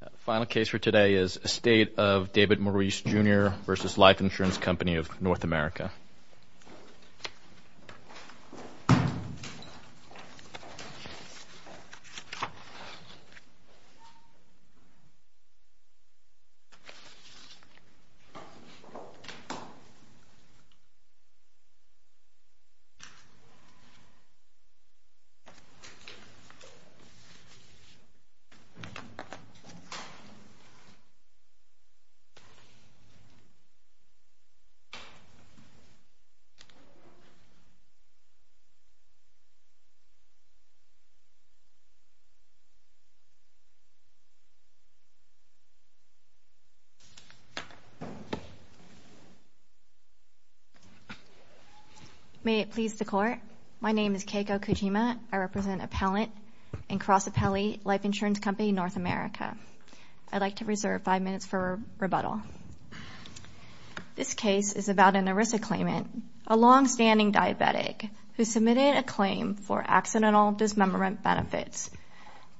The final case for today is Estate of David Maurice, Jr. v. Life Ins. Co. of N. America. May it please the Court, my name is Keiko Kojima. I represent Appellant and Cross Appellee Life Insurance Company, N. America. I'd like to reserve five minutes for rebuttal. This case is about an ERISA claimant, a long-standing diabetic, who submitted a claim for accidental dismemberment benefits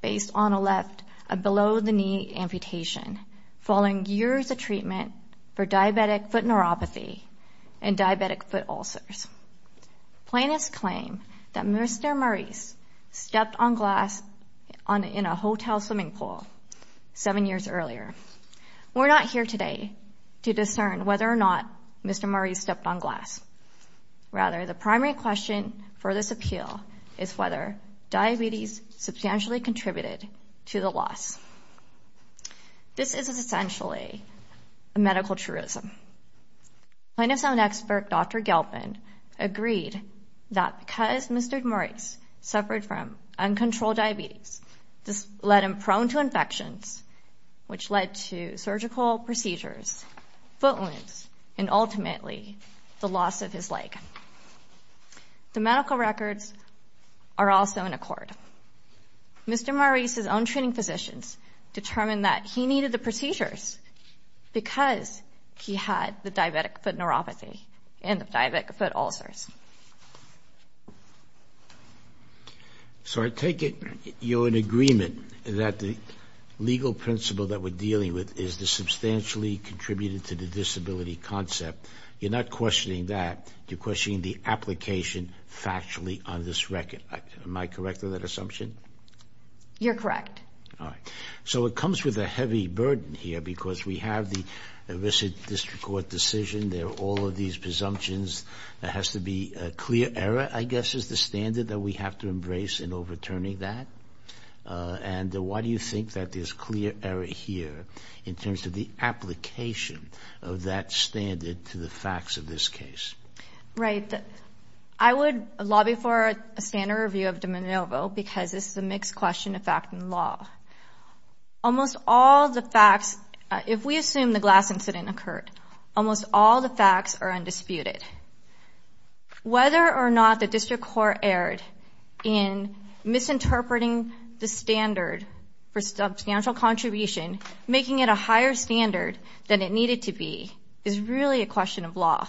based on a left below-the-knee amputation following years of treatment for diabetic foot neuropathy and diabetic foot ulcers. Plaintiffs claim that Mr. Maurice stepped on glass in a hotel swimming pool seven years earlier. We're not here today to discern whether or not Mr. Maurice stepped on glass. Rather, the primary question for this appeal is whether diabetes substantially contributed to the loss. This is essentially a medical truism. Plaintiffs' own expert, Dr. Gelpin, agreed that because Mr. Maurice suffered from uncontrolled diabetes, this led him prone to infections, which led to surgical procedures, foot wounds, and ultimately the loss of his leg. The medical records are also in accord. Mr. Maurice's own treating physicians determined that he needed the procedures because he had the diabetic foot neuropathy and the diabetic foot ulcers. So I take it you're in agreement that the legal principle that we're dealing with is the substantially contributed to the disability concept. You're not questioning that. You're questioning the application factually on this record. Am I correct on that assumption? You're correct. All right. So it comes with a heavy burden here because we have the Elicit District Court decision. There are all of these presumptions. There has to be a clear error, I guess, is the standard that we have to embrace in overturning that. And why do you think that there's clear error here in terms of the application of that standard to the facts of this case? Right. I would lobby for a standard review of de novo because this is a mixed question of fact and law. Almost all the facts, if we assume the glass incident occurred, almost all the facts are undisputed. Whether or not the district court erred in misinterpreting the standard for substantial contribution, making it a higher standard than it needed to be is really a question of law,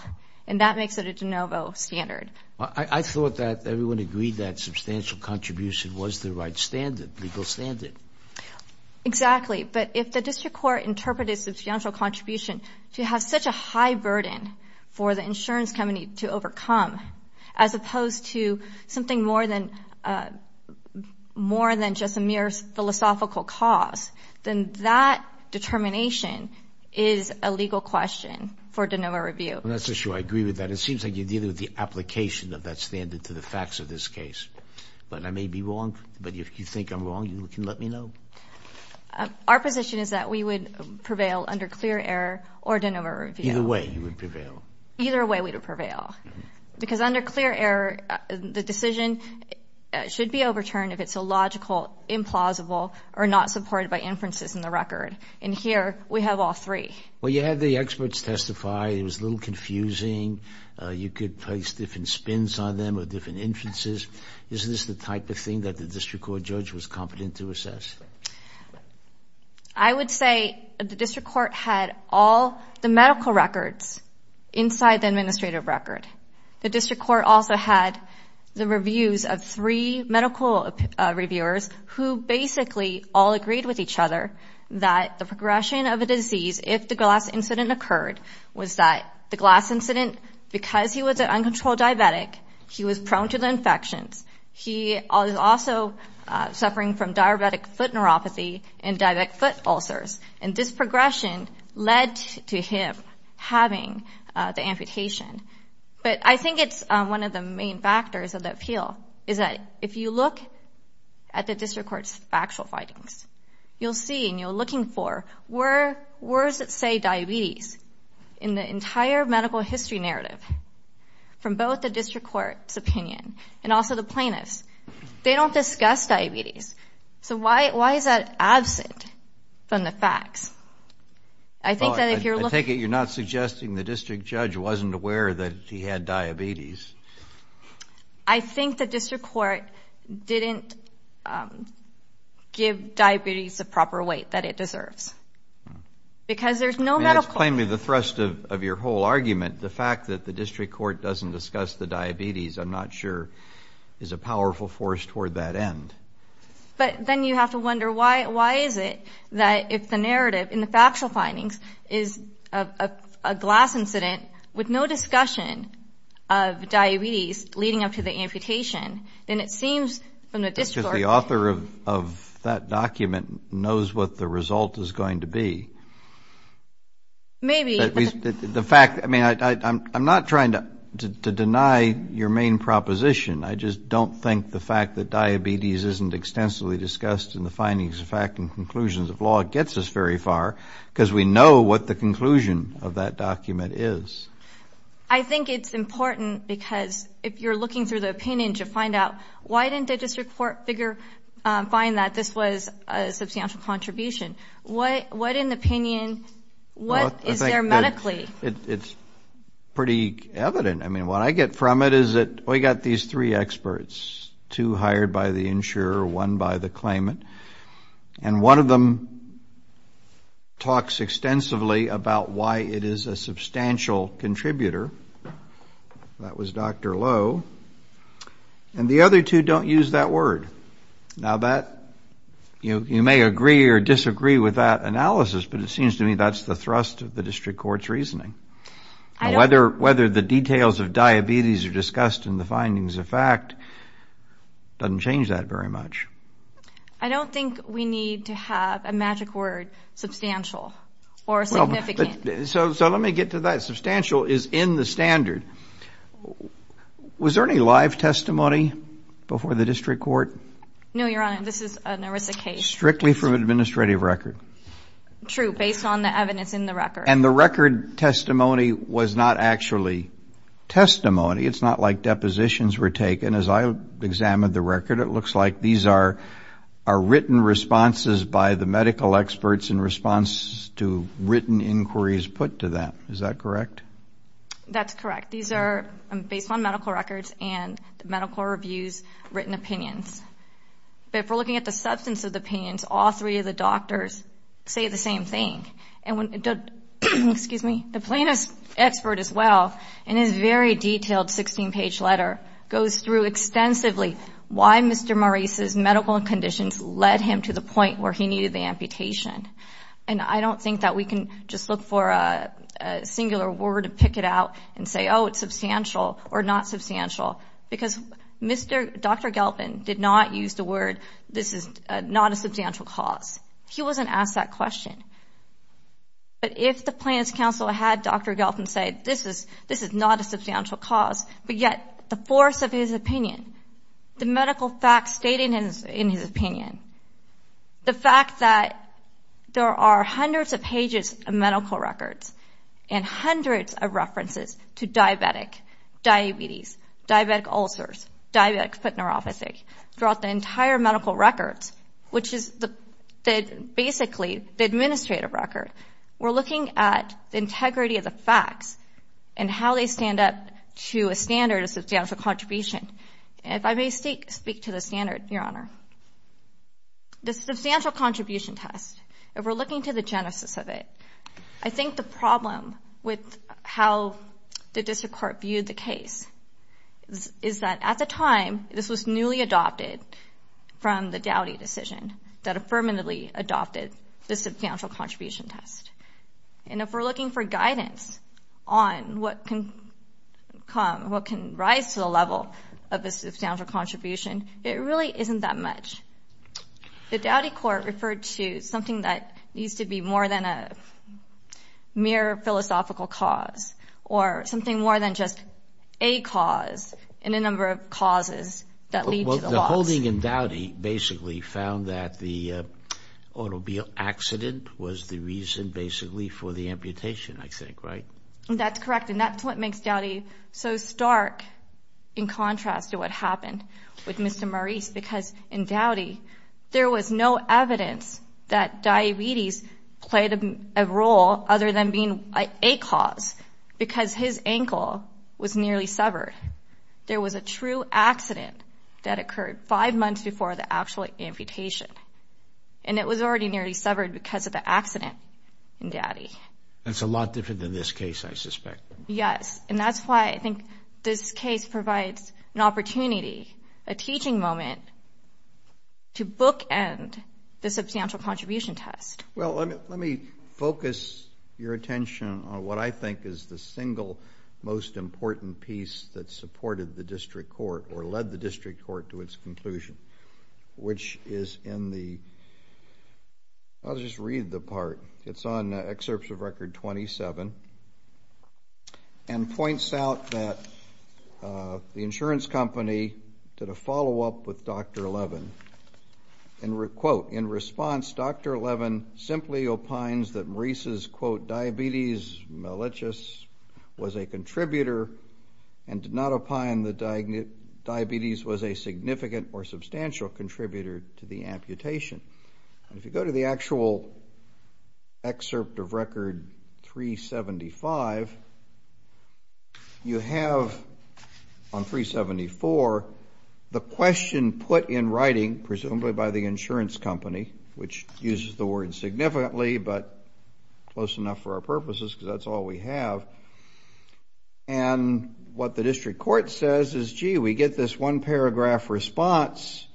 and that makes it a de novo standard. I thought that everyone agreed that substantial contribution was the right standard, legal standard. Exactly. But if the district court interpreted substantial contribution to have such a high burden for the insurance company to overcome, as opposed to something more than just a mere philosophical cause, then that determination is a legal question for de novo review. I'm not so sure I agree with that. It seems like you're dealing with the application of that standard to the facts of this case. But I may be wrong. But if you think I'm wrong, you can let me know. Our position is that we would prevail under clear error or de novo review. Either way, you would prevail. Either way, we would prevail. Because under clear error, the decision should be overturned if it's illogical, implausible, or not supported by inferences in the record. And here, we have all three. Well, you had the experts testify. It was a little confusing. You could place different spins on them or different inferences. Is this the type of thing that the district court judge was competent to assess? I would say the district court had all the medical records inside the administrative record. The district court also had the reviews of three medical reviewers who basically all agreed with each other that the progression of a disease, if the glass incident occurred, was that the glass incident, because he was an uncontrolled diabetic, he was prone to the infections. He was also suffering from diabetic foot neuropathy and diabetic foot ulcers. And this progression led to him having the amputation. But I think it's one of the main factors of the appeal is that if you look at the district court's factual findings, you'll see and you're looking for words that say diabetes in the entire medical history narrative from both the district court's opinion and also the plaintiff's. They don't discuss diabetes. So why is that absent from the facts? I take it you're not suggesting the district judge wasn't aware that he had diabetes. I think the district court didn't give diabetes the proper weight that it deserves. Because there's no medical record. That's plainly the thrust of your whole argument. The fact that the district court doesn't discuss the diabetes, I'm not sure, is a powerful force toward that end. But then you have to wonder why is it that if the narrative in the factual findings is a glass incident with no discussion of diabetes leading up to the amputation, then it seems from the district court. Because the author of that document knows what the result is going to be. Maybe. The fact, I mean, I'm not trying to deny your main proposition. I just don't think the fact that diabetes isn't extensively discussed in the findings of fact and conclusions of law gets us very far because we know what the conclusion of that document is. I think it's important because if you're looking through the opinion to find out, why didn't the district court find that this was a substantial contribution? What in the opinion, what is there medically? It's pretty evident. I mean, what I get from it is that we got these three experts, two hired by the insurer, one by the claimant. And one of them talks extensively about why it is a substantial contributor. That was Dr. Lowe. And the other two don't use that word. Now, you may agree or disagree with that analysis, but it seems to me that's the thrust of the district court's reasoning. Whether the details of diabetes are discussed in the findings of fact doesn't change that very much. I don't think we need to have a magic word substantial or significant. So let me get to that. Substantial is in the standard. Was there any live testimony before the district court? No, Your Honor. This is an ERISA case. Strictly from administrative record. True, based on the evidence in the record. And the record testimony was not actually testimony. It's not like depositions were taken. As I examined the record, it looks like these are written responses by the medical experts in response to written inquiries put to them. Is that correct? That's correct. These are based on medical records and medical reviews, written opinions. But if we're looking at the substance of the opinions, all three of the doctors say the same thing. Excuse me. The plaintiff's expert as well, in his very detailed 16-page letter, goes through extensively why Mr. Maurice's medical conditions led him to the point where he needed the amputation. And I don't think that we can just look for a singular word to pick it out and say, oh, it's substantial or not substantial. Because Dr. Galpin did not use the word, this is not a substantial cause. He wasn't asked that question. But if the plaintiff's counsel had Dr. Galpin say, this is not a substantial cause, but yet the force of his opinion, the medical facts stated in his opinion, the fact that there are hundreds of pages of medical records and hundreds of references to diabetic, diabetes, diabetic ulcers, diabetic foot neuropathy, throughout the entire medical records, which is basically the administrative record, we're looking at the integrity of the facts and how they stand up to a standard of substantial contribution. If I may speak to the standard, Your Honor. The substantial contribution test, if we're looking to the genesis of it, I think the problem with how the district court viewed the case is that at the time, this was newly adopted from the Dowdy decision that affirmatively adopted the substantial contribution test. And if we're looking for guidance on what can come, what can rise to the level of a substantial contribution, it really isn't that much. The Dowdy court referred to something that needs to be more than a mere philosophical cause or something more than just a cause and a number of causes that lead to the loss. The holding in Dowdy basically found that the automobile accident was the reason basically for the amputation, I think, right? That's correct. And that's what makes Dowdy so stark in contrast to what happened with Mr. Maurice because in Dowdy there was no evidence that diabetes played a role other than being a cause because his ankle was nearly severed. There was a true accident that occurred five months before the actual amputation. And it was already nearly severed because of the accident in Dowdy. That's a lot different than this case, I suspect. Yes. And that's why I think this case provides an opportunity, a teaching moment, to bookend the substantial contribution test. Well, let me focus your attention on what I think is the single most important piece that supported the district court or led the district court to its conclusion, which is in the, I'll just read the part. It's on Excerpts of Record 27 and points out that the insurance company did a follow-up with Dr. Levin. And, quote, in response, Dr. Levin simply opines that Maurice's, quote, was a contributor and did not opine that diabetes was a significant or substantial contributor to the amputation. And if you go to the actual Excerpt of Record 375, you have on 374 the question put in writing, presumably by the insurance company, which uses the word significantly but close enough for our purposes because that's all we have. And what the district court says is, gee, we get this one-paragraph response,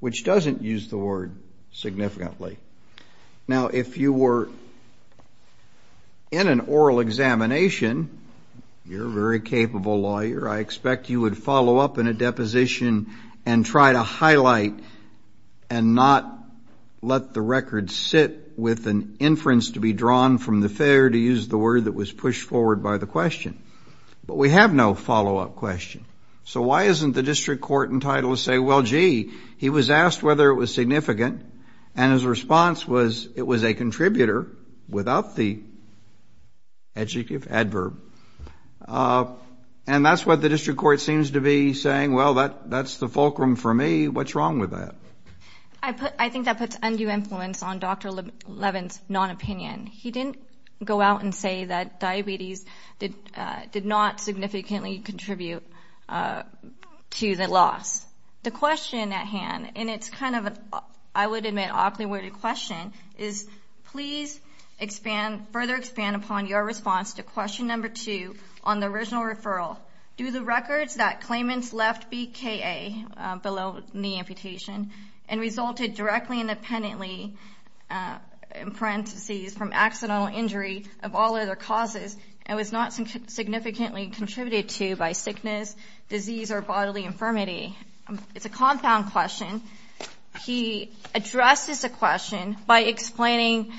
which doesn't use the word significantly. Now, if you were in an oral examination, you're a very capable lawyer. I expect you would follow up in a deposition and try to highlight and not let the record sit with an inference to be drawn from the fair, to use the word that was pushed forward by the question. But we have no follow-up question. So why isn't the district court entitled to say, well, gee, he was asked whether it was significant, and his response was it was a contributor without the adjective, adverb. And that's what the district court seems to be saying. Well, that's the fulcrum for me. What's wrong with that? I think that puts undue influence on Dr. Levin's non-opinion. He didn't go out and say that diabetes did not significantly contribute to the loss. The question at hand, and it's kind of, I would admit, an awkward question, is please further expand upon your response to question number two on the original referral. Do the records that claimants left BKA, below-knee amputation, and resulted directly independently in parentheses from accidental injury of all other causes and was not significantly contributed to by sickness, disease, or bodily infirmity? It's a compound question. He addresses the question by explaining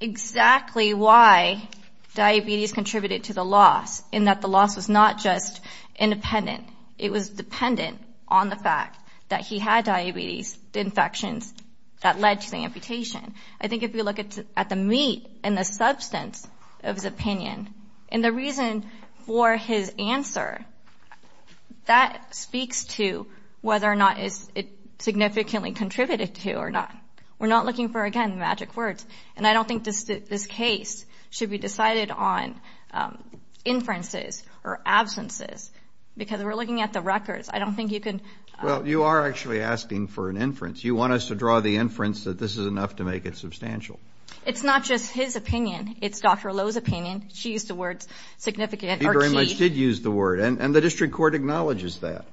exactly why diabetes contributed to the loss, and that the loss was not just independent. It was dependent on the fact that he had diabetes, the infections that led to the amputation. I think if you look at the meat and the substance of his opinion, and the reason for his answer, that speaks to whether or not it significantly contributed to or not. We're not looking for, again, magic words. And I don't think this case should be decided on inferences or absences, because we're looking at the records. I don't think you can. Well, you are actually asking for an inference. You want us to draw the inference that this is enough to make it substantial. It's not just his opinion. It's Dr. Lowe's opinion. She used the words significant or key. She very much did use the word, and the district court acknowledges that.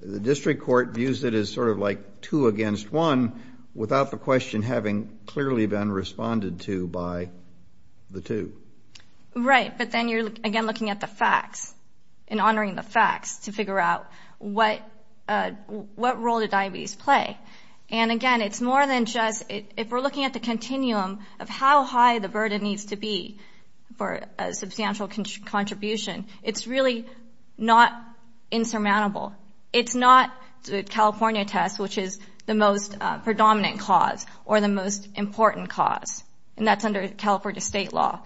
The district court views it as sort of like two against one, without the question having clearly been responded to by the two. Right, but then you're, again, looking at the facts, and honoring the facts to figure out what role did diabetes play. And, again, it's more than just, if we're looking at the continuum of how high the burden needs to be for a substantial contribution, it's really not insurmountable. It's not the California test, which is the most predominant cause, or the most important cause, and that's under California state law.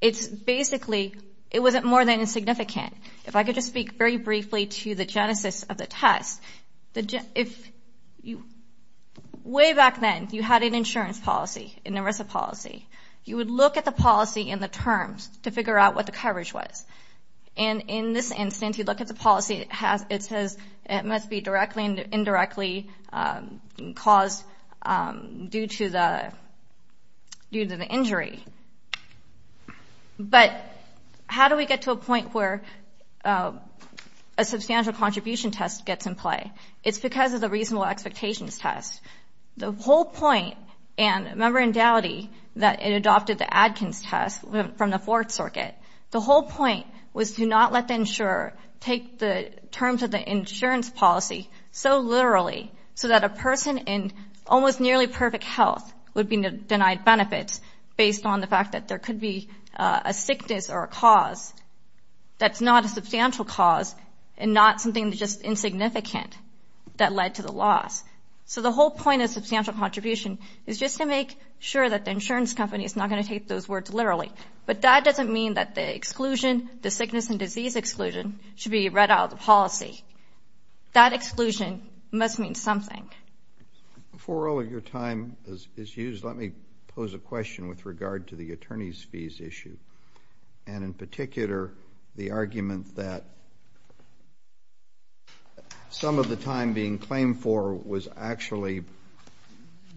It's basically, it wasn't more than insignificant. If I could just speak very briefly to the genesis of the test. Way back then, you had an insurance policy, an ERISA policy. You would look at the policy and the terms to figure out what the coverage was. And in this instance, you look at the policy, it says it must be directly and indirectly caused due to the injury. But how do we get to a point where a substantial contribution test gets in play? It's because of the reasonable expectations test. The whole point, and remember in Dowdy, that it adopted the Adkins test from the Fourth Circuit. The whole point was to not let the insurer take the terms of the insurance policy so literally, so that a person in almost nearly perfect health would be denied benefits based on the fact that there could be a sickness or a cause that's not a substantial cause and not something that's just insignificant that led to the loss. So the whole point of substantial contribution is just to make sure that the insurance company is not going to take those words literally. But that doesn't mean that the exclusion, the sickness and disease exclusion, should be read out of the policy. That exclusion must mean something. Before all of your time is used, let me pose a question with regard to the attorney's fees issue and in particular the argument that some of the time being claimed for was actually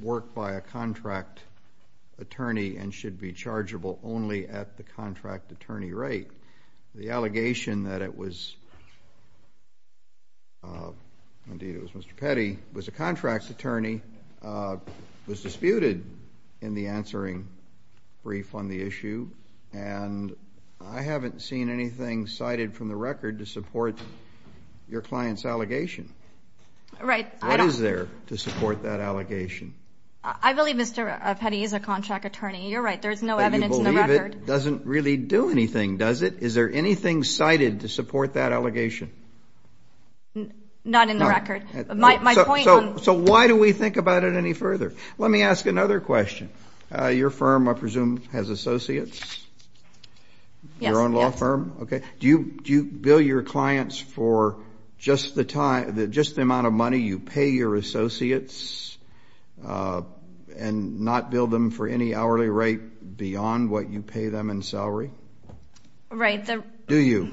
worked by a contract attorney and should be chargeable only at the contract attorney rate. The allegation that it was indeed it was Mr. Petty who was a contract attorney was disputed in the answering brief on the issue, and I haven't seen anything cited from the record to support your client's allegation. Right. What is there to support that allegation? I believe Mr. Petty is a contract attorney. You're right. There's no evidence in the record. But you believe it doesn't really do anything, does it? Is there anything cited to support that allegation? Not in the record. So why do we think about it any further? Let me ask another question. Your firm, I presume, has associates? Yes. Your own law firm? Okay. Do you bill your clients for just the amount of money you pay your associates and not bill them for any hourly rate beyond what you pay them in salary? Right. Do you?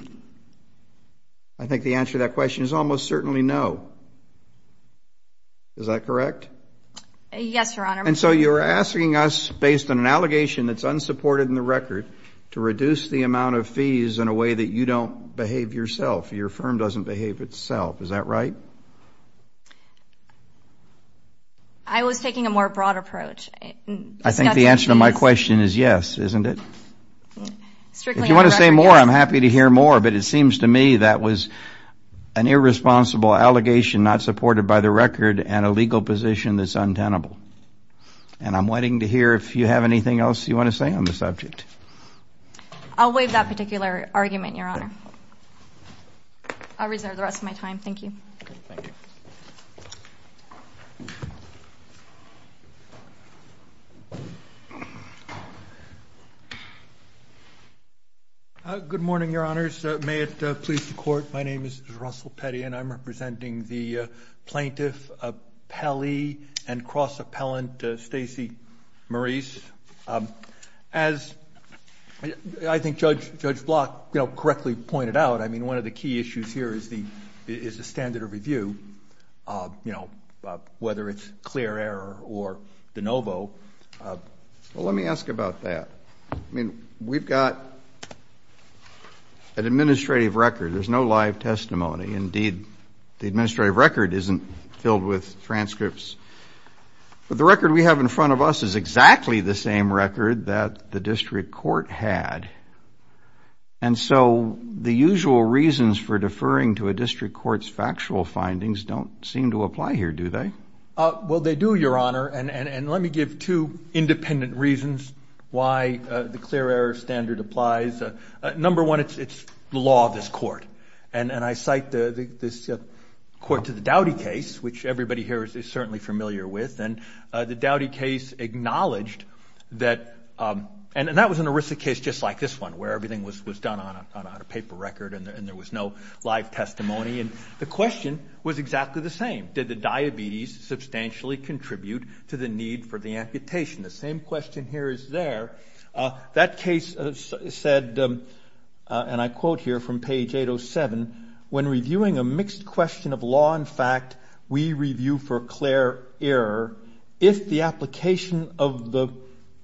I think the answer to that question is almost certainly no. Is that correct? Yes, Your Honor. And so you're asking us, based on an allegation that's unsupported in the record, to reduce the amount of fees in a way that you don't behave yourself, your firm doesn't behave itself. Is that right? I was taking a more broad approach. I think the answer to my question is yes, isn't it? If you want to say more, I'm happy to hear more. But it seems to me that was an irresponsible allegation not supported by the record and a legal position that's untenable. And I'm waiting to hear if you have anything else you want to say on the subject. I'll waive that particular argument, Your Honor. I'll reserve the rest of my time. Thank you. Thank you. Good morning, Your Honors. May it please the Court, my name is Russell Petty and I'm representing the Plaintiff Appellee and Cross-Appellant Stacey Maurice. As I think Judge Block correctly pointed out, one of the key issues here is the standard of review, whether it's clear error or de novo. Let me ask about that. We've got an administrative record. There's no live testimony. Indeed, the administrative record isn't filled with transcripts. But the record we have in front of us is exactly the same record that the district court had. And so the usual reasons for deferring to a district court's factual findings don't seem to apply here, do they? Well, they do, Your Honor. And let me give two independent reasons why the clear error standard applies. Number one, it's the law of this court. And I cite this court to the Doughty case, which everybody here is certainly familiar with. And the Doughty case acknowledged that, and that was an aristic case just like this one, where everything was done on a paper record and there was no live testimony. And the question was exactly the same. Did the diabetes substantially contribute to the need for the amputation? The same question here is there. That case said, and I quote here from page 807, when reviewing a mixed question of law and fact, we review for clear error, if the application of the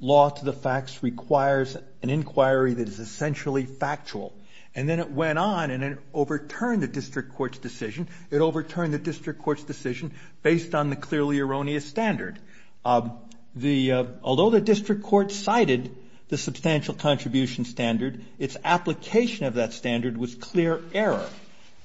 law to the facts requires an inquiry that is essentially factual. And then it went on and it overturned the district court's decision. It overturned the district court's decision based on the clearly erroneous standard. Although the district court cited the substantial contribution standard, its application of that standard was clear error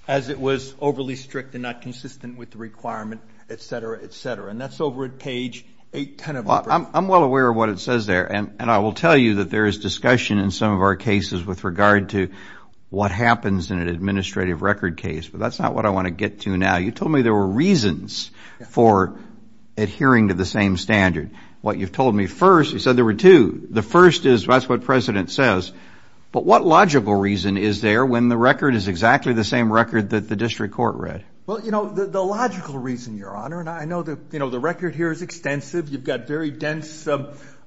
as it was overly strict and not consistent with the requirement, et cetera, et cetera. And that's over at page 810. Well, I'm well aware of what it says there, and I will tell you that there is discussion in some of our cases with regard to what happens in an administrative record case, but that's not what I want to get to now. You told me there were reasons for adhering to the same standard. What you've told me first, you said there were two. The first is that's what President says, but what logical reason is there when the record is exactly the same record that the district court read? Well, you know, the logical reason, Your Honor, and I know, you know, the record here is extensive. You've got very dense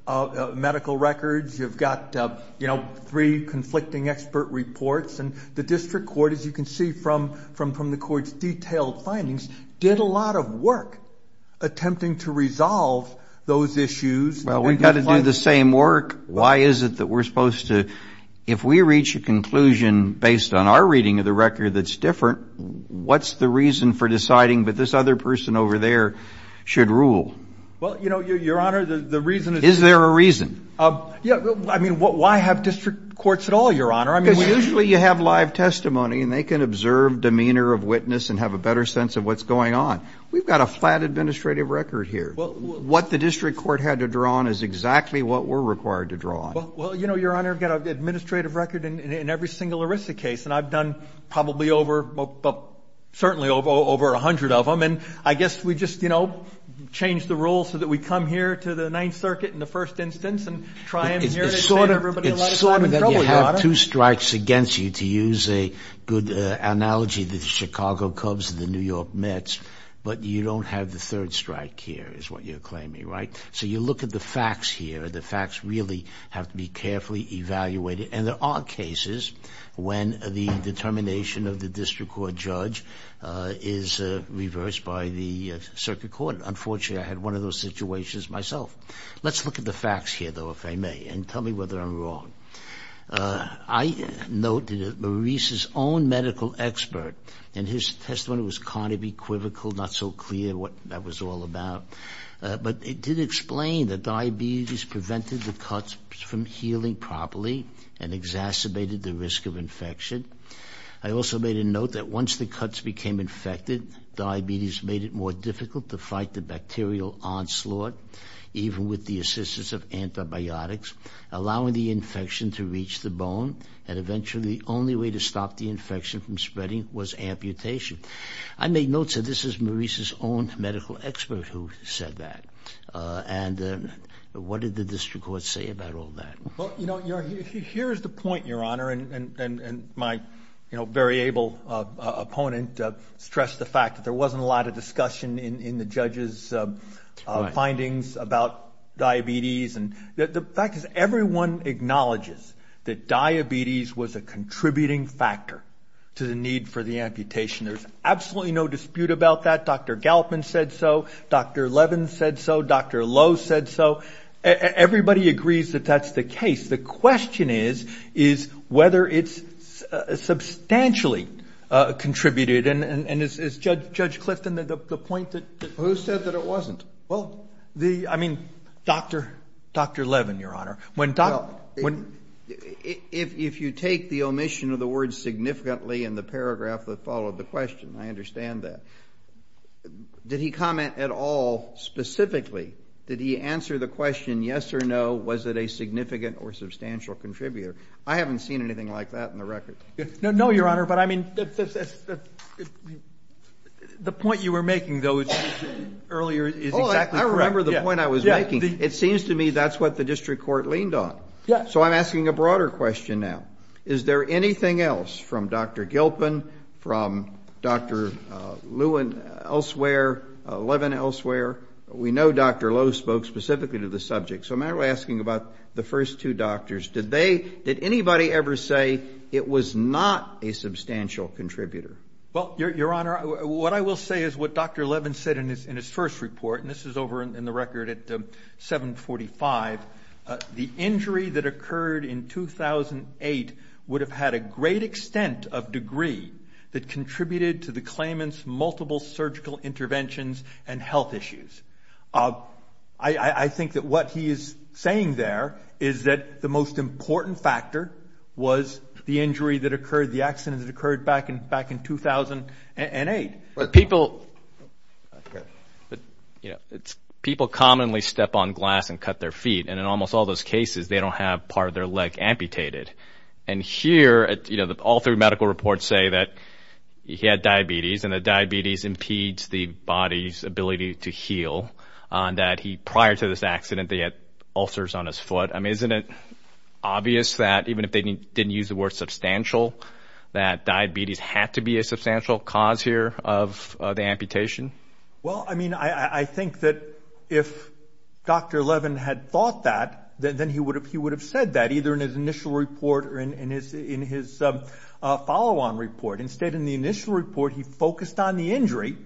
medical records. You've got, you know, three conflicting expert reports. And the district court, as you can see from the court's detailed findings, did a lot of work attempting to resolve those issues. Well, we've got to do the same work. Why is it that we're supposed to? If we reach a conclusion based on our reading of the record that's different, what's the reason for deciding that this other person over there should rule? Well, you know, Your Honor, the reason is. Is there a reason? Yeah. I mean, why have district courts at all, Your Honor? Because usually you have live testimony, and they can observe demeanor of witness and have a better sense of what's going on. We've got a flat administrative record here. What the district court had to draw on is exactly what we're required to draw on. Well, you know, Your Honor, I've got an administrative record in every single ERISA case, and I've done probably over, well, certainly over 100 of them. And I guess we just, you know, changed the rules so that we come here to the Ninth Circuit in the first instance and try and hear everybody. It's sort of that you have two strikes against you, to use a good analogy, the Chicago Cubs and the New York Mets, but you don't have the third strike here is what you're claiming, right? So you look at the facts here. The facts really have to be carefully evaluated. And there are cases when the determination of the district court judge is reversed by the circuit court. Unfortunately, I had one of those situations myself. Let's look at the facts here, though, if I may, and tell me whether I'm wrong. I noted that Maurice's own medical expert in his testimony was kind of equivocal, not so clear what that was all about. But it did explain that diabetes prevented the cuts from healing properly and exacerbated the risk of infection. I also made a note that once the cuts became infected, diabetes made it more difficult to fight the bacterial onslaught, even with the assistance of antibiotics, allowing the infection to reach the bone, and eventually the only way to stop the infection from spreading was amputation. I made notes that this is Maurice's own medical expert who said that. And what did the district court say about all that? Well, you know, here's the point, Your Honor, and my very able opponent stressed the fact that there wasn't a lot of discussion in the judges' findings about diabetes. The fact is everyone acknowledges that diabetes was a contributing factor to the need for the amputation. There's absolutely no dispute about that. Dr. Gallopin said so. Dr. Levin said so. Dr. Lowe said so. Everybody agrees that that's the case. The question is whether it's substantially contributed. And is Judge Clifton at the point that? Who said that it wasn't? Well, I mean, Dr. Levin, Your Honor. Well, if you take the omission of the word significantly in the paragraph that followed the question, I understand that. Did he comment at all specifically? Did he answer the question yes or no? Was it a significant or substantial contributor? I haven't seen anything like that in the record. No, Your Honor, but I mean, the point you were making, though, earlier is exactly correct. I remember the point I was making. It seems to me that's what the district court leaned on. So I'm asking a broader question now. Is there anything else from Dr. Gilpin, from Dr. Lewin elsewhere, Levin elsewhere? We know Dr. Lowe spoke specifically to the subject. So I'm asking about the first two doctors. Did they, did anybody ever say it was not a substantial contributor? Well, Your Honor, what I will say is what Dr. Levin said in his first report, and this is over in the record at 745, the injury that occurred in 2008 would have had a great extent of degree that contributed to the claimant's multiple surgical interventions and health issues. I think that what he is saying there is that the most important factor was the injury that occurred, the accident that occurred back in 2008. People commonly step on glass and cut their feet, and in almost all those cases they don't have part of their leg amputated. And here, you know, all three medical reports say that he had diabetes and that diabetes impedes the body's ability to heal, that prior to this accident they had ulcers on his foot. I mean, isn't it obvious that even if they didn't use the word substantial, that diabetes had to be a substantial cause here of the amputation? Well, I mean, I think that if Dr. Levin had thought that, then he would have said that, either in his initial report or in his follow-on report. Instead, in the initial report, he focused on the injury,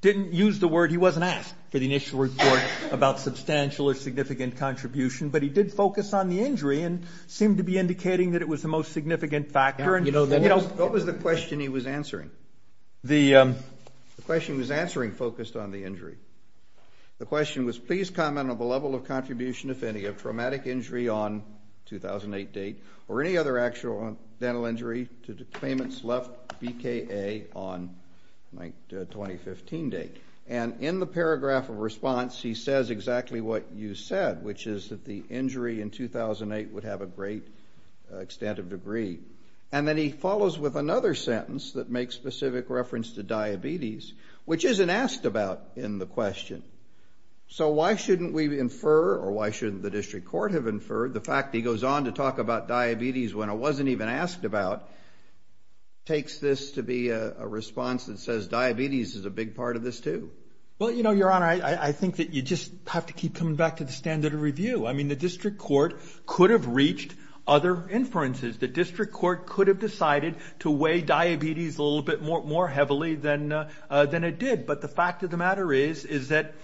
didn't use the word, he wasn't asked for the initial report about substantial or significant contribution, but he did focus on the injury and seemed to be indicating that it was the most significant factor. What was the question he was answering? The question he was answering focused on the injury. The question was, please comment on the level of contribution, if any, of traumatic injury on 2008 date or any other actual dental injury to the claimants left BKA on 2015 date. And in the paragraph of response, he says exactly what you said, which is that the injury in 2008 would have a great extent of degree. And then he follows with another sentence that makes specific reference to diabetes, which isn't asked about in the question. So why shouldn't we infer, or why shouldn't the district court have inferred, the fact that he goes on to talk about diabetes when it wasn't even asked about, takes this to be a response that says diabetes is a big part of this, too? Well, you know, Your Honor, I think that you just have to keep coming back to the standard of review. I mean, the district court could have reached other inferences. The district court could have decided to weigh diabetes a little bit more heavily than it did. But the fact of the matter is, is that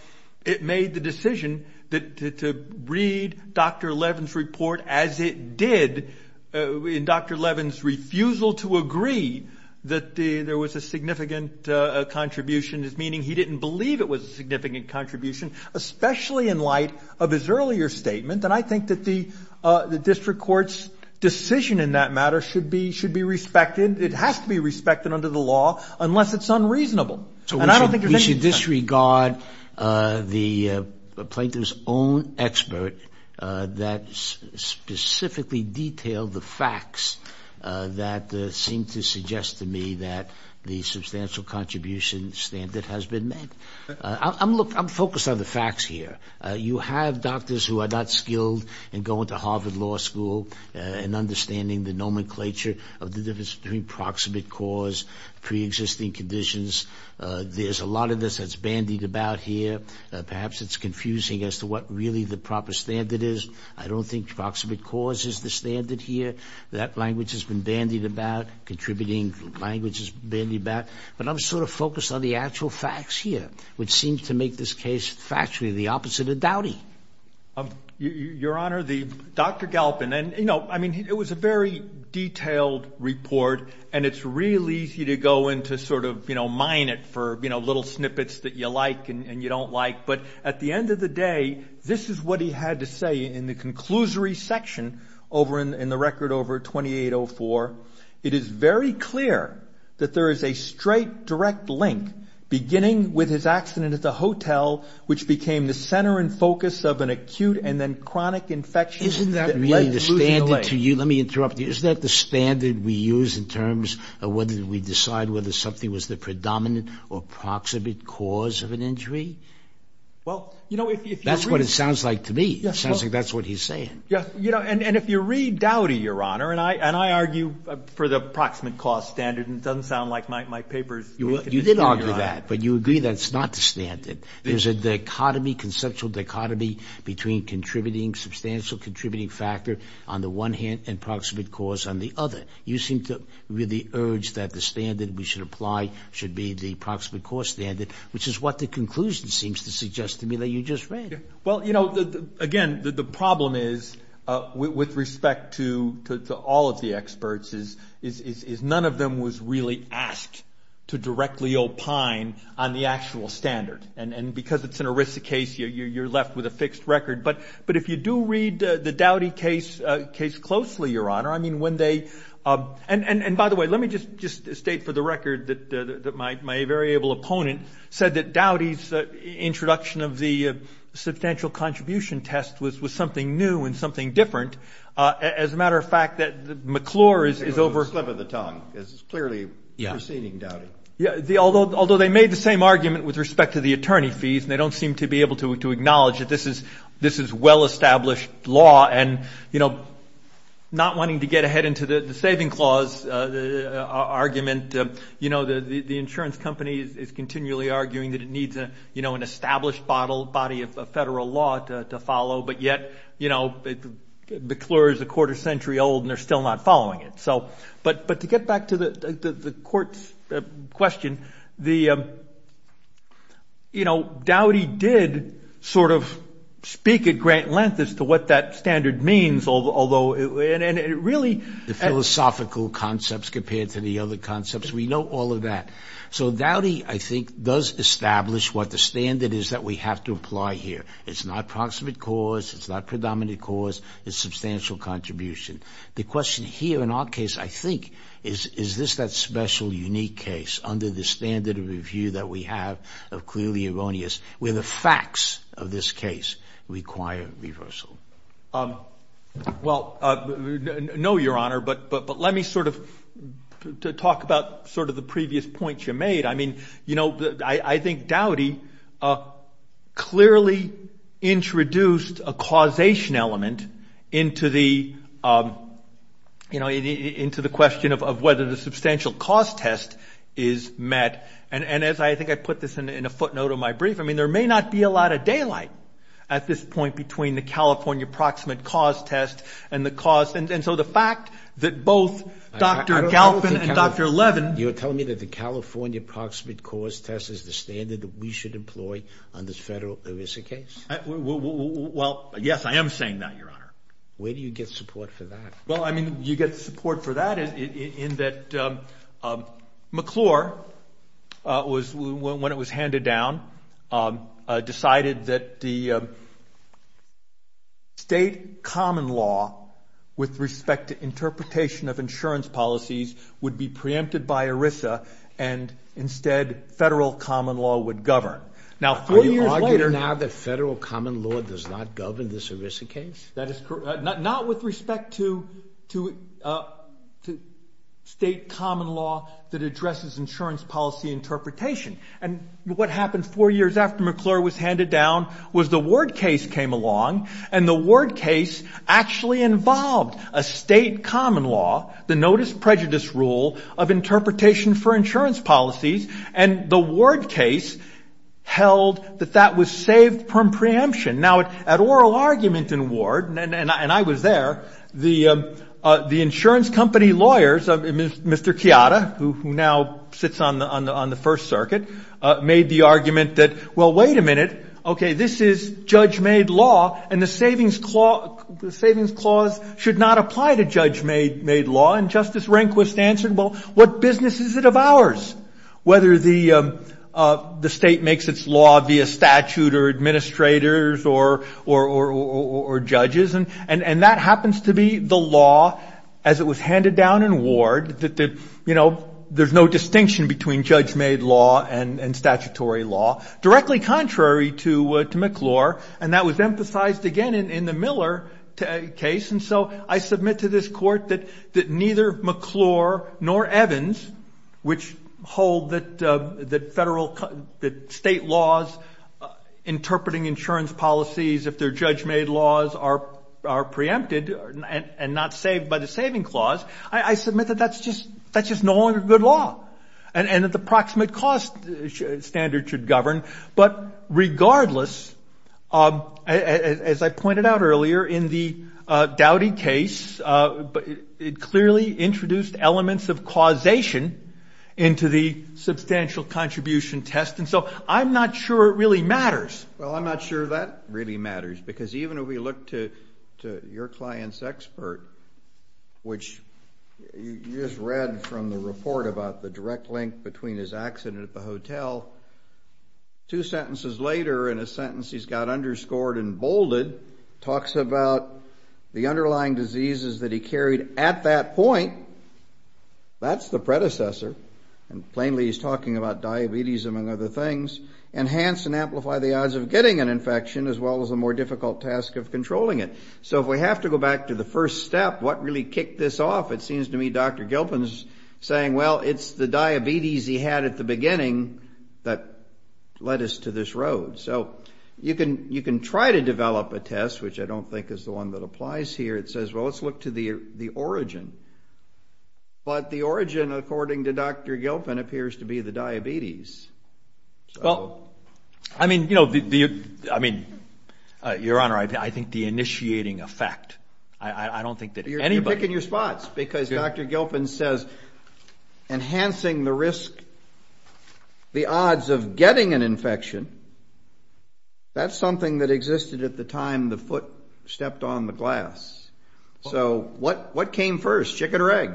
it made the decision to read Dr. Levin's report as it did, in Dr. Levin's refusal to agree that there was a significant contribution, meaning he didn't believe it was a significant contribution, especially in light of his earlier statement. And I think that the district court's decision in that matter should be respected. It has to be respected under the law unless it's unreasonable. So we should disregard the plaintiff's own expert that specifically detailed the facts that seem to suggest to me that the substantial contribution standard has been met. Look, I'm focused on the facts here. You have doctors who are not skilled in going to Harvard Law School and understanding the nomenclature of the difference between proximate cause, preexisting conditions. There's a lot of this that's bandied about here. Perhaps it's confusing as to what really the proper standard is. I don't think proximate cause is the standard here. That language has been bandied about, contributing languages bandied about. But I'm sort of focused on the actual facts here, which seems to make this case factually the opposite of doubting. Your Honor, Dr. Galpin, it was a very detailed report, and it's really easy to go in to sort of mine it for little snippets that you like and you don't like. But at the end of the day, this is what he had to say in the conclusory section in the record over 2804. It is very clear that there is a straight, direct link beginning with his accident at the hotel, which became the center and focus of an acute and then chronic infection. Isn't that really the standard to you? Let me interrupt you. Isn't that the standard we use in terms of whether we decide whether something was the predominant or proximate cause of an injury? Well, you know, if you read... That's what it sounds like to me. It sounds like that's what he's saying. Yes, you know, and if you read Dowdy, Your Honor, and I argue for the proximate cause standard, and it doesn't sound like my paper is making any sense, Your Honor. You did argue that, but you agree that it's not the standard. There's a dichotomy, conceptual dichotomy, between contributing, substantial contributing factor on the one hand and proximate cause on the other. You seem to really urge that the standard we should apply should be the proximate cause standard, which is what the conclusion seems to suggest to me that you just read. Well, you know, again, the problem is, with respect to all of the experts, is none of them was really asked to directly opine on the actual standard. And because it's an erisic case, you're left with a fixed record. But if you do read the Dowdy case closely, Your Honor, I mean, when they... And, by the way, let me just state for the record that my very able opponent said that Dowdy's introduction of the substantial contribution test was something new and something different. As a matter of fact, that McClure is over... A slip of the tongue. This is clearly proceeding Dowdy. Yeah. Although they made the same argument with respect to the attorney fees, and they don't seem to be able to acknowledge that this is well-established law. And, you know, not wanting to get ahead into the saving clause argument, you know, the insurance company is continually arguing that it needs, you know, an established body of federal law to follow. But yet, you know, McClure is a quarter century old, and they're still not following it. So, but to get back to the court's question, the, you know, Dowdy did sort of speak at great length as to what that standard means, although it really... The philosophical concepts compared to the other concepts, we know all of that. So Dowdy, I think, does establish what the standard is that we have to apply here. It's not proximate cause. It's not predominant cause. It's substantial contribution. The question here in our case, I think, is, is this that special, unique case under the standard of review that we have of clearly erroneous, where the facts of this case require reversal? Well, no, Your Honor, but let me sort of talk about sort of the previous points you made. I mean, you know, I think Dowdy clearly introduced a causation element into the, you know, into the question of whether the substantial cause test is met. And as I think I put this in a footnote of my brief, I mean, there may not be a lot of daylight at this point between the California proximate cause test and the cause. And so the fact that both Dr. Galpin and Dr. Levin... test is the standard that we should employ on this federal ERISA case. Well, yes, I am saying that, Your Honor. Where do you get support for that? Well, I mean, you get support for that in that McClure was, when it was handed down, decided that the state common law with respect to interpretation of insurance policies would be preempted by ERISA and instead federal common law would govern. Now, four years later... Are you arguing now that federal common law does not govern this ERISA case? That is correct. Not with respect to state common law that addresses insurance policy interpretation. And what happened four years after McClure was handed down was the Ward case came along, and the Ward case actually involved a state common law, the notice prejudice rule of interpretation for insurance policies, and the Ward case held that that was saved from preemption. Now, at oral argument in Ward, and I was there, the insurance company lawyers, Mr. Chiata, who now sits on the First Circuit, made the argument that, well, wait a minute, okay, this is judge-made law, and the savings clause should not apply to judge-made law. And Justice Rehnquist answered, well, what business is it of ours whether the state makes its law via statute or administrators or judges? And that happens to be the law, as it was handed down in Ward, that, you know, there's no distinction between judge-made law and statutory law, directly contrary to McClure, and that was emphasized again in the Miller case. And so I submit to this court that neither McClure nor Evans, which hold that state laws interpreting insurance policies if they're judge-made laws are preempted and not saved by the saving clause, I submit that that's just no longer good law and that the proximate cost standard should govern. But regardless, as I pointed out earlier, in the Dowdy case, it clearly introduced elements of causation into the substantial contribution test, and so I'm not sure it really matters. Well, I'm not sure that really matters, because even if we look to your client's expert, which you just read from the report about the direct link between his accident at the hotel, two sentences later in a sentence he's got underscored and bolded, talks about the underlying diseases that he carried at that point, that's the predecessor, and plainly he's talking about diabetes among other things, enhance and amplify the odds of getting an infection as well as a more difficult task of controlling it. So if we have to go back to the first step, what really kicked this off? It seems to me Dr. Gilpin is saying, well, it's the diabetes he had at the beginning that led us to this road. So you can try to develop a test, which I don't think is the one that applies here. It says, well, let's look to the origin. But the origin, according to Dr. Gilpin, appears to be the diabetes. Well, I mean, you know, I mean, Your Honor, I think the initiating effect, I don't think that anybody. You're picking your spots, because Dr. Gilpin says enhancing the risk, the odds of getting an infection, that's something that existed at the time the foot stepped on the glass. So what came first, chicken or egg?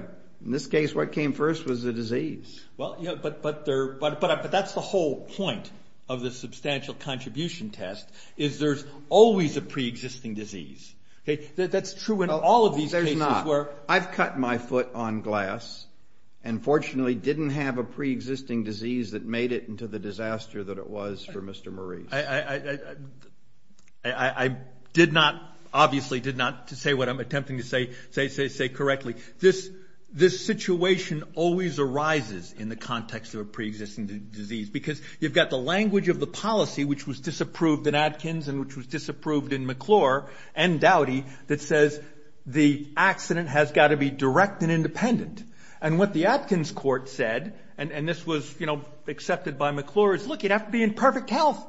In this case, what came first was the disease. Well, yeah, but that's the whole point of the substantial contribution test, is there's always a preexisting disease. That's true in all of these cases. There's not. I've cut my foot on glass and fortunately didn't have a preexisting disease that made it into the disaster that it was for Mr. Maurice. I did not, obviously did not say what I'm attempting to say correctly. This situation always arises in the context of a preexisting disease, because you've got the language of the policy, which was disapproved in Atkins and which was disapproved in McClure and Dowdy, that says the accident has got to be direct and independent. And what the Atkins court said, and this was accepted by McClure, is look, you'd have to be in perfect health.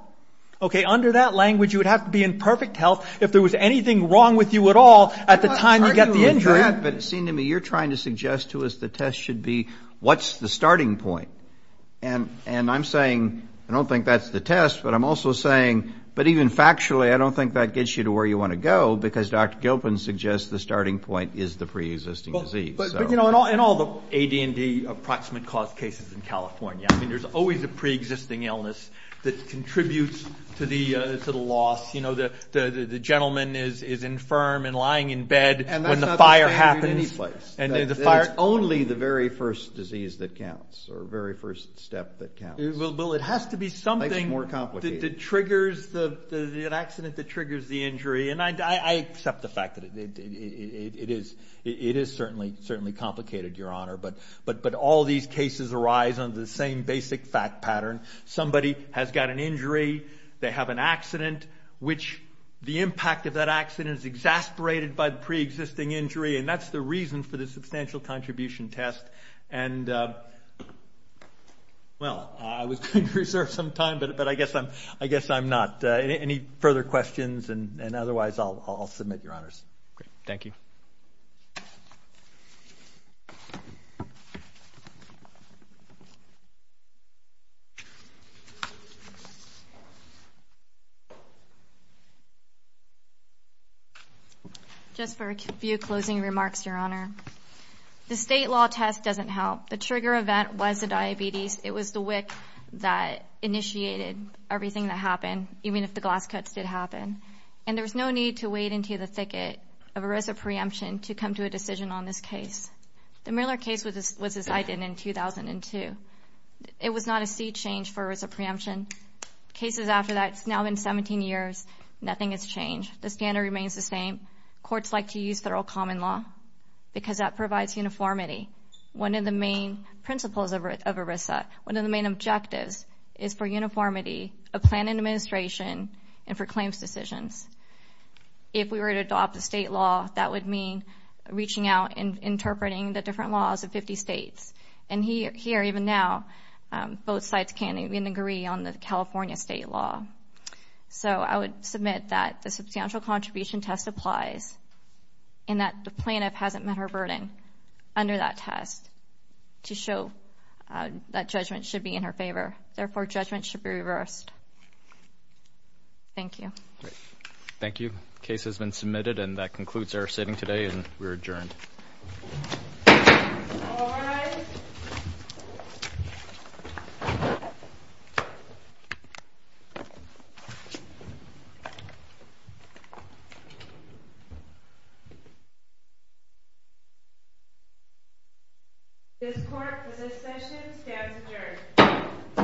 Under that language, you would have to be in perfect health if there was anything wrong with you at all at the time you got the injury. But it seemed to me you're trying to suggest to us the test should be what's the starting point. And I'm saying I don't think that's the test, but I'm also saying, but even factually, I don't think that gets you to where you want to go, because Dr. Gilpin suggests the starting point is the preexisting disease. But, you know, in all the AD&D approximate cause cases in California, I mean, there's always a preexisting illness that contributes to the loss. You know, the gentleman is infirm and lying in bed when the fire happens. And that's not the same in any place. It's only the very first disease that counts or very first step that counts. Well, it has to be something that triggers the accident, that triggers the injury. And I accept the fact that it is certainly complicated, Your Honor. But all these cases arise under the same basic fact pattern. Somebody has got an injury. They have an accident, which the impact of that accident is exasperated by the preexisting injury. And that's the reason for the substantial contribution test. And, well, I was going to reserve some time, but I guess I'm not. Any further questions? And otherwise, I'll submit, Your Honors. Thank you. Just for a few closing remarks, Your Honor. The state law test doesn't help. The trigger event was the diabetes. It was the WIC that initiated everything that happened, even if the glass cuts did happen. And there was no need to wade into the thicket of ERISA preemption to come to a decision on this case. The Miller case was decided in 2002. It was not a seat change for ERISA preemption. Cases after that, it's now been 17 years, nothing has changed. The standard remains the same. Courts like to use federal common law because that provides uniformity. One of the main principles of ERISA, one of the main objectives, is for uniformity, a plan and administration, and for claims decisions. If we were to adopt the state law, that would mean reaching out and interpreting the different laws of 50 states. And here, even now, both sides can't even agree on the California state law. So I would submit that the substantial contribution test applies and that the plaintiff hasn't met her burden under that test to show that judgment should be in her favor. Therefore, judgment should be reversed. Thank you. Thank you. The case has been submitted, and that concludes our sitting today, and we're adjourned. This court, for this session, stands adjourned.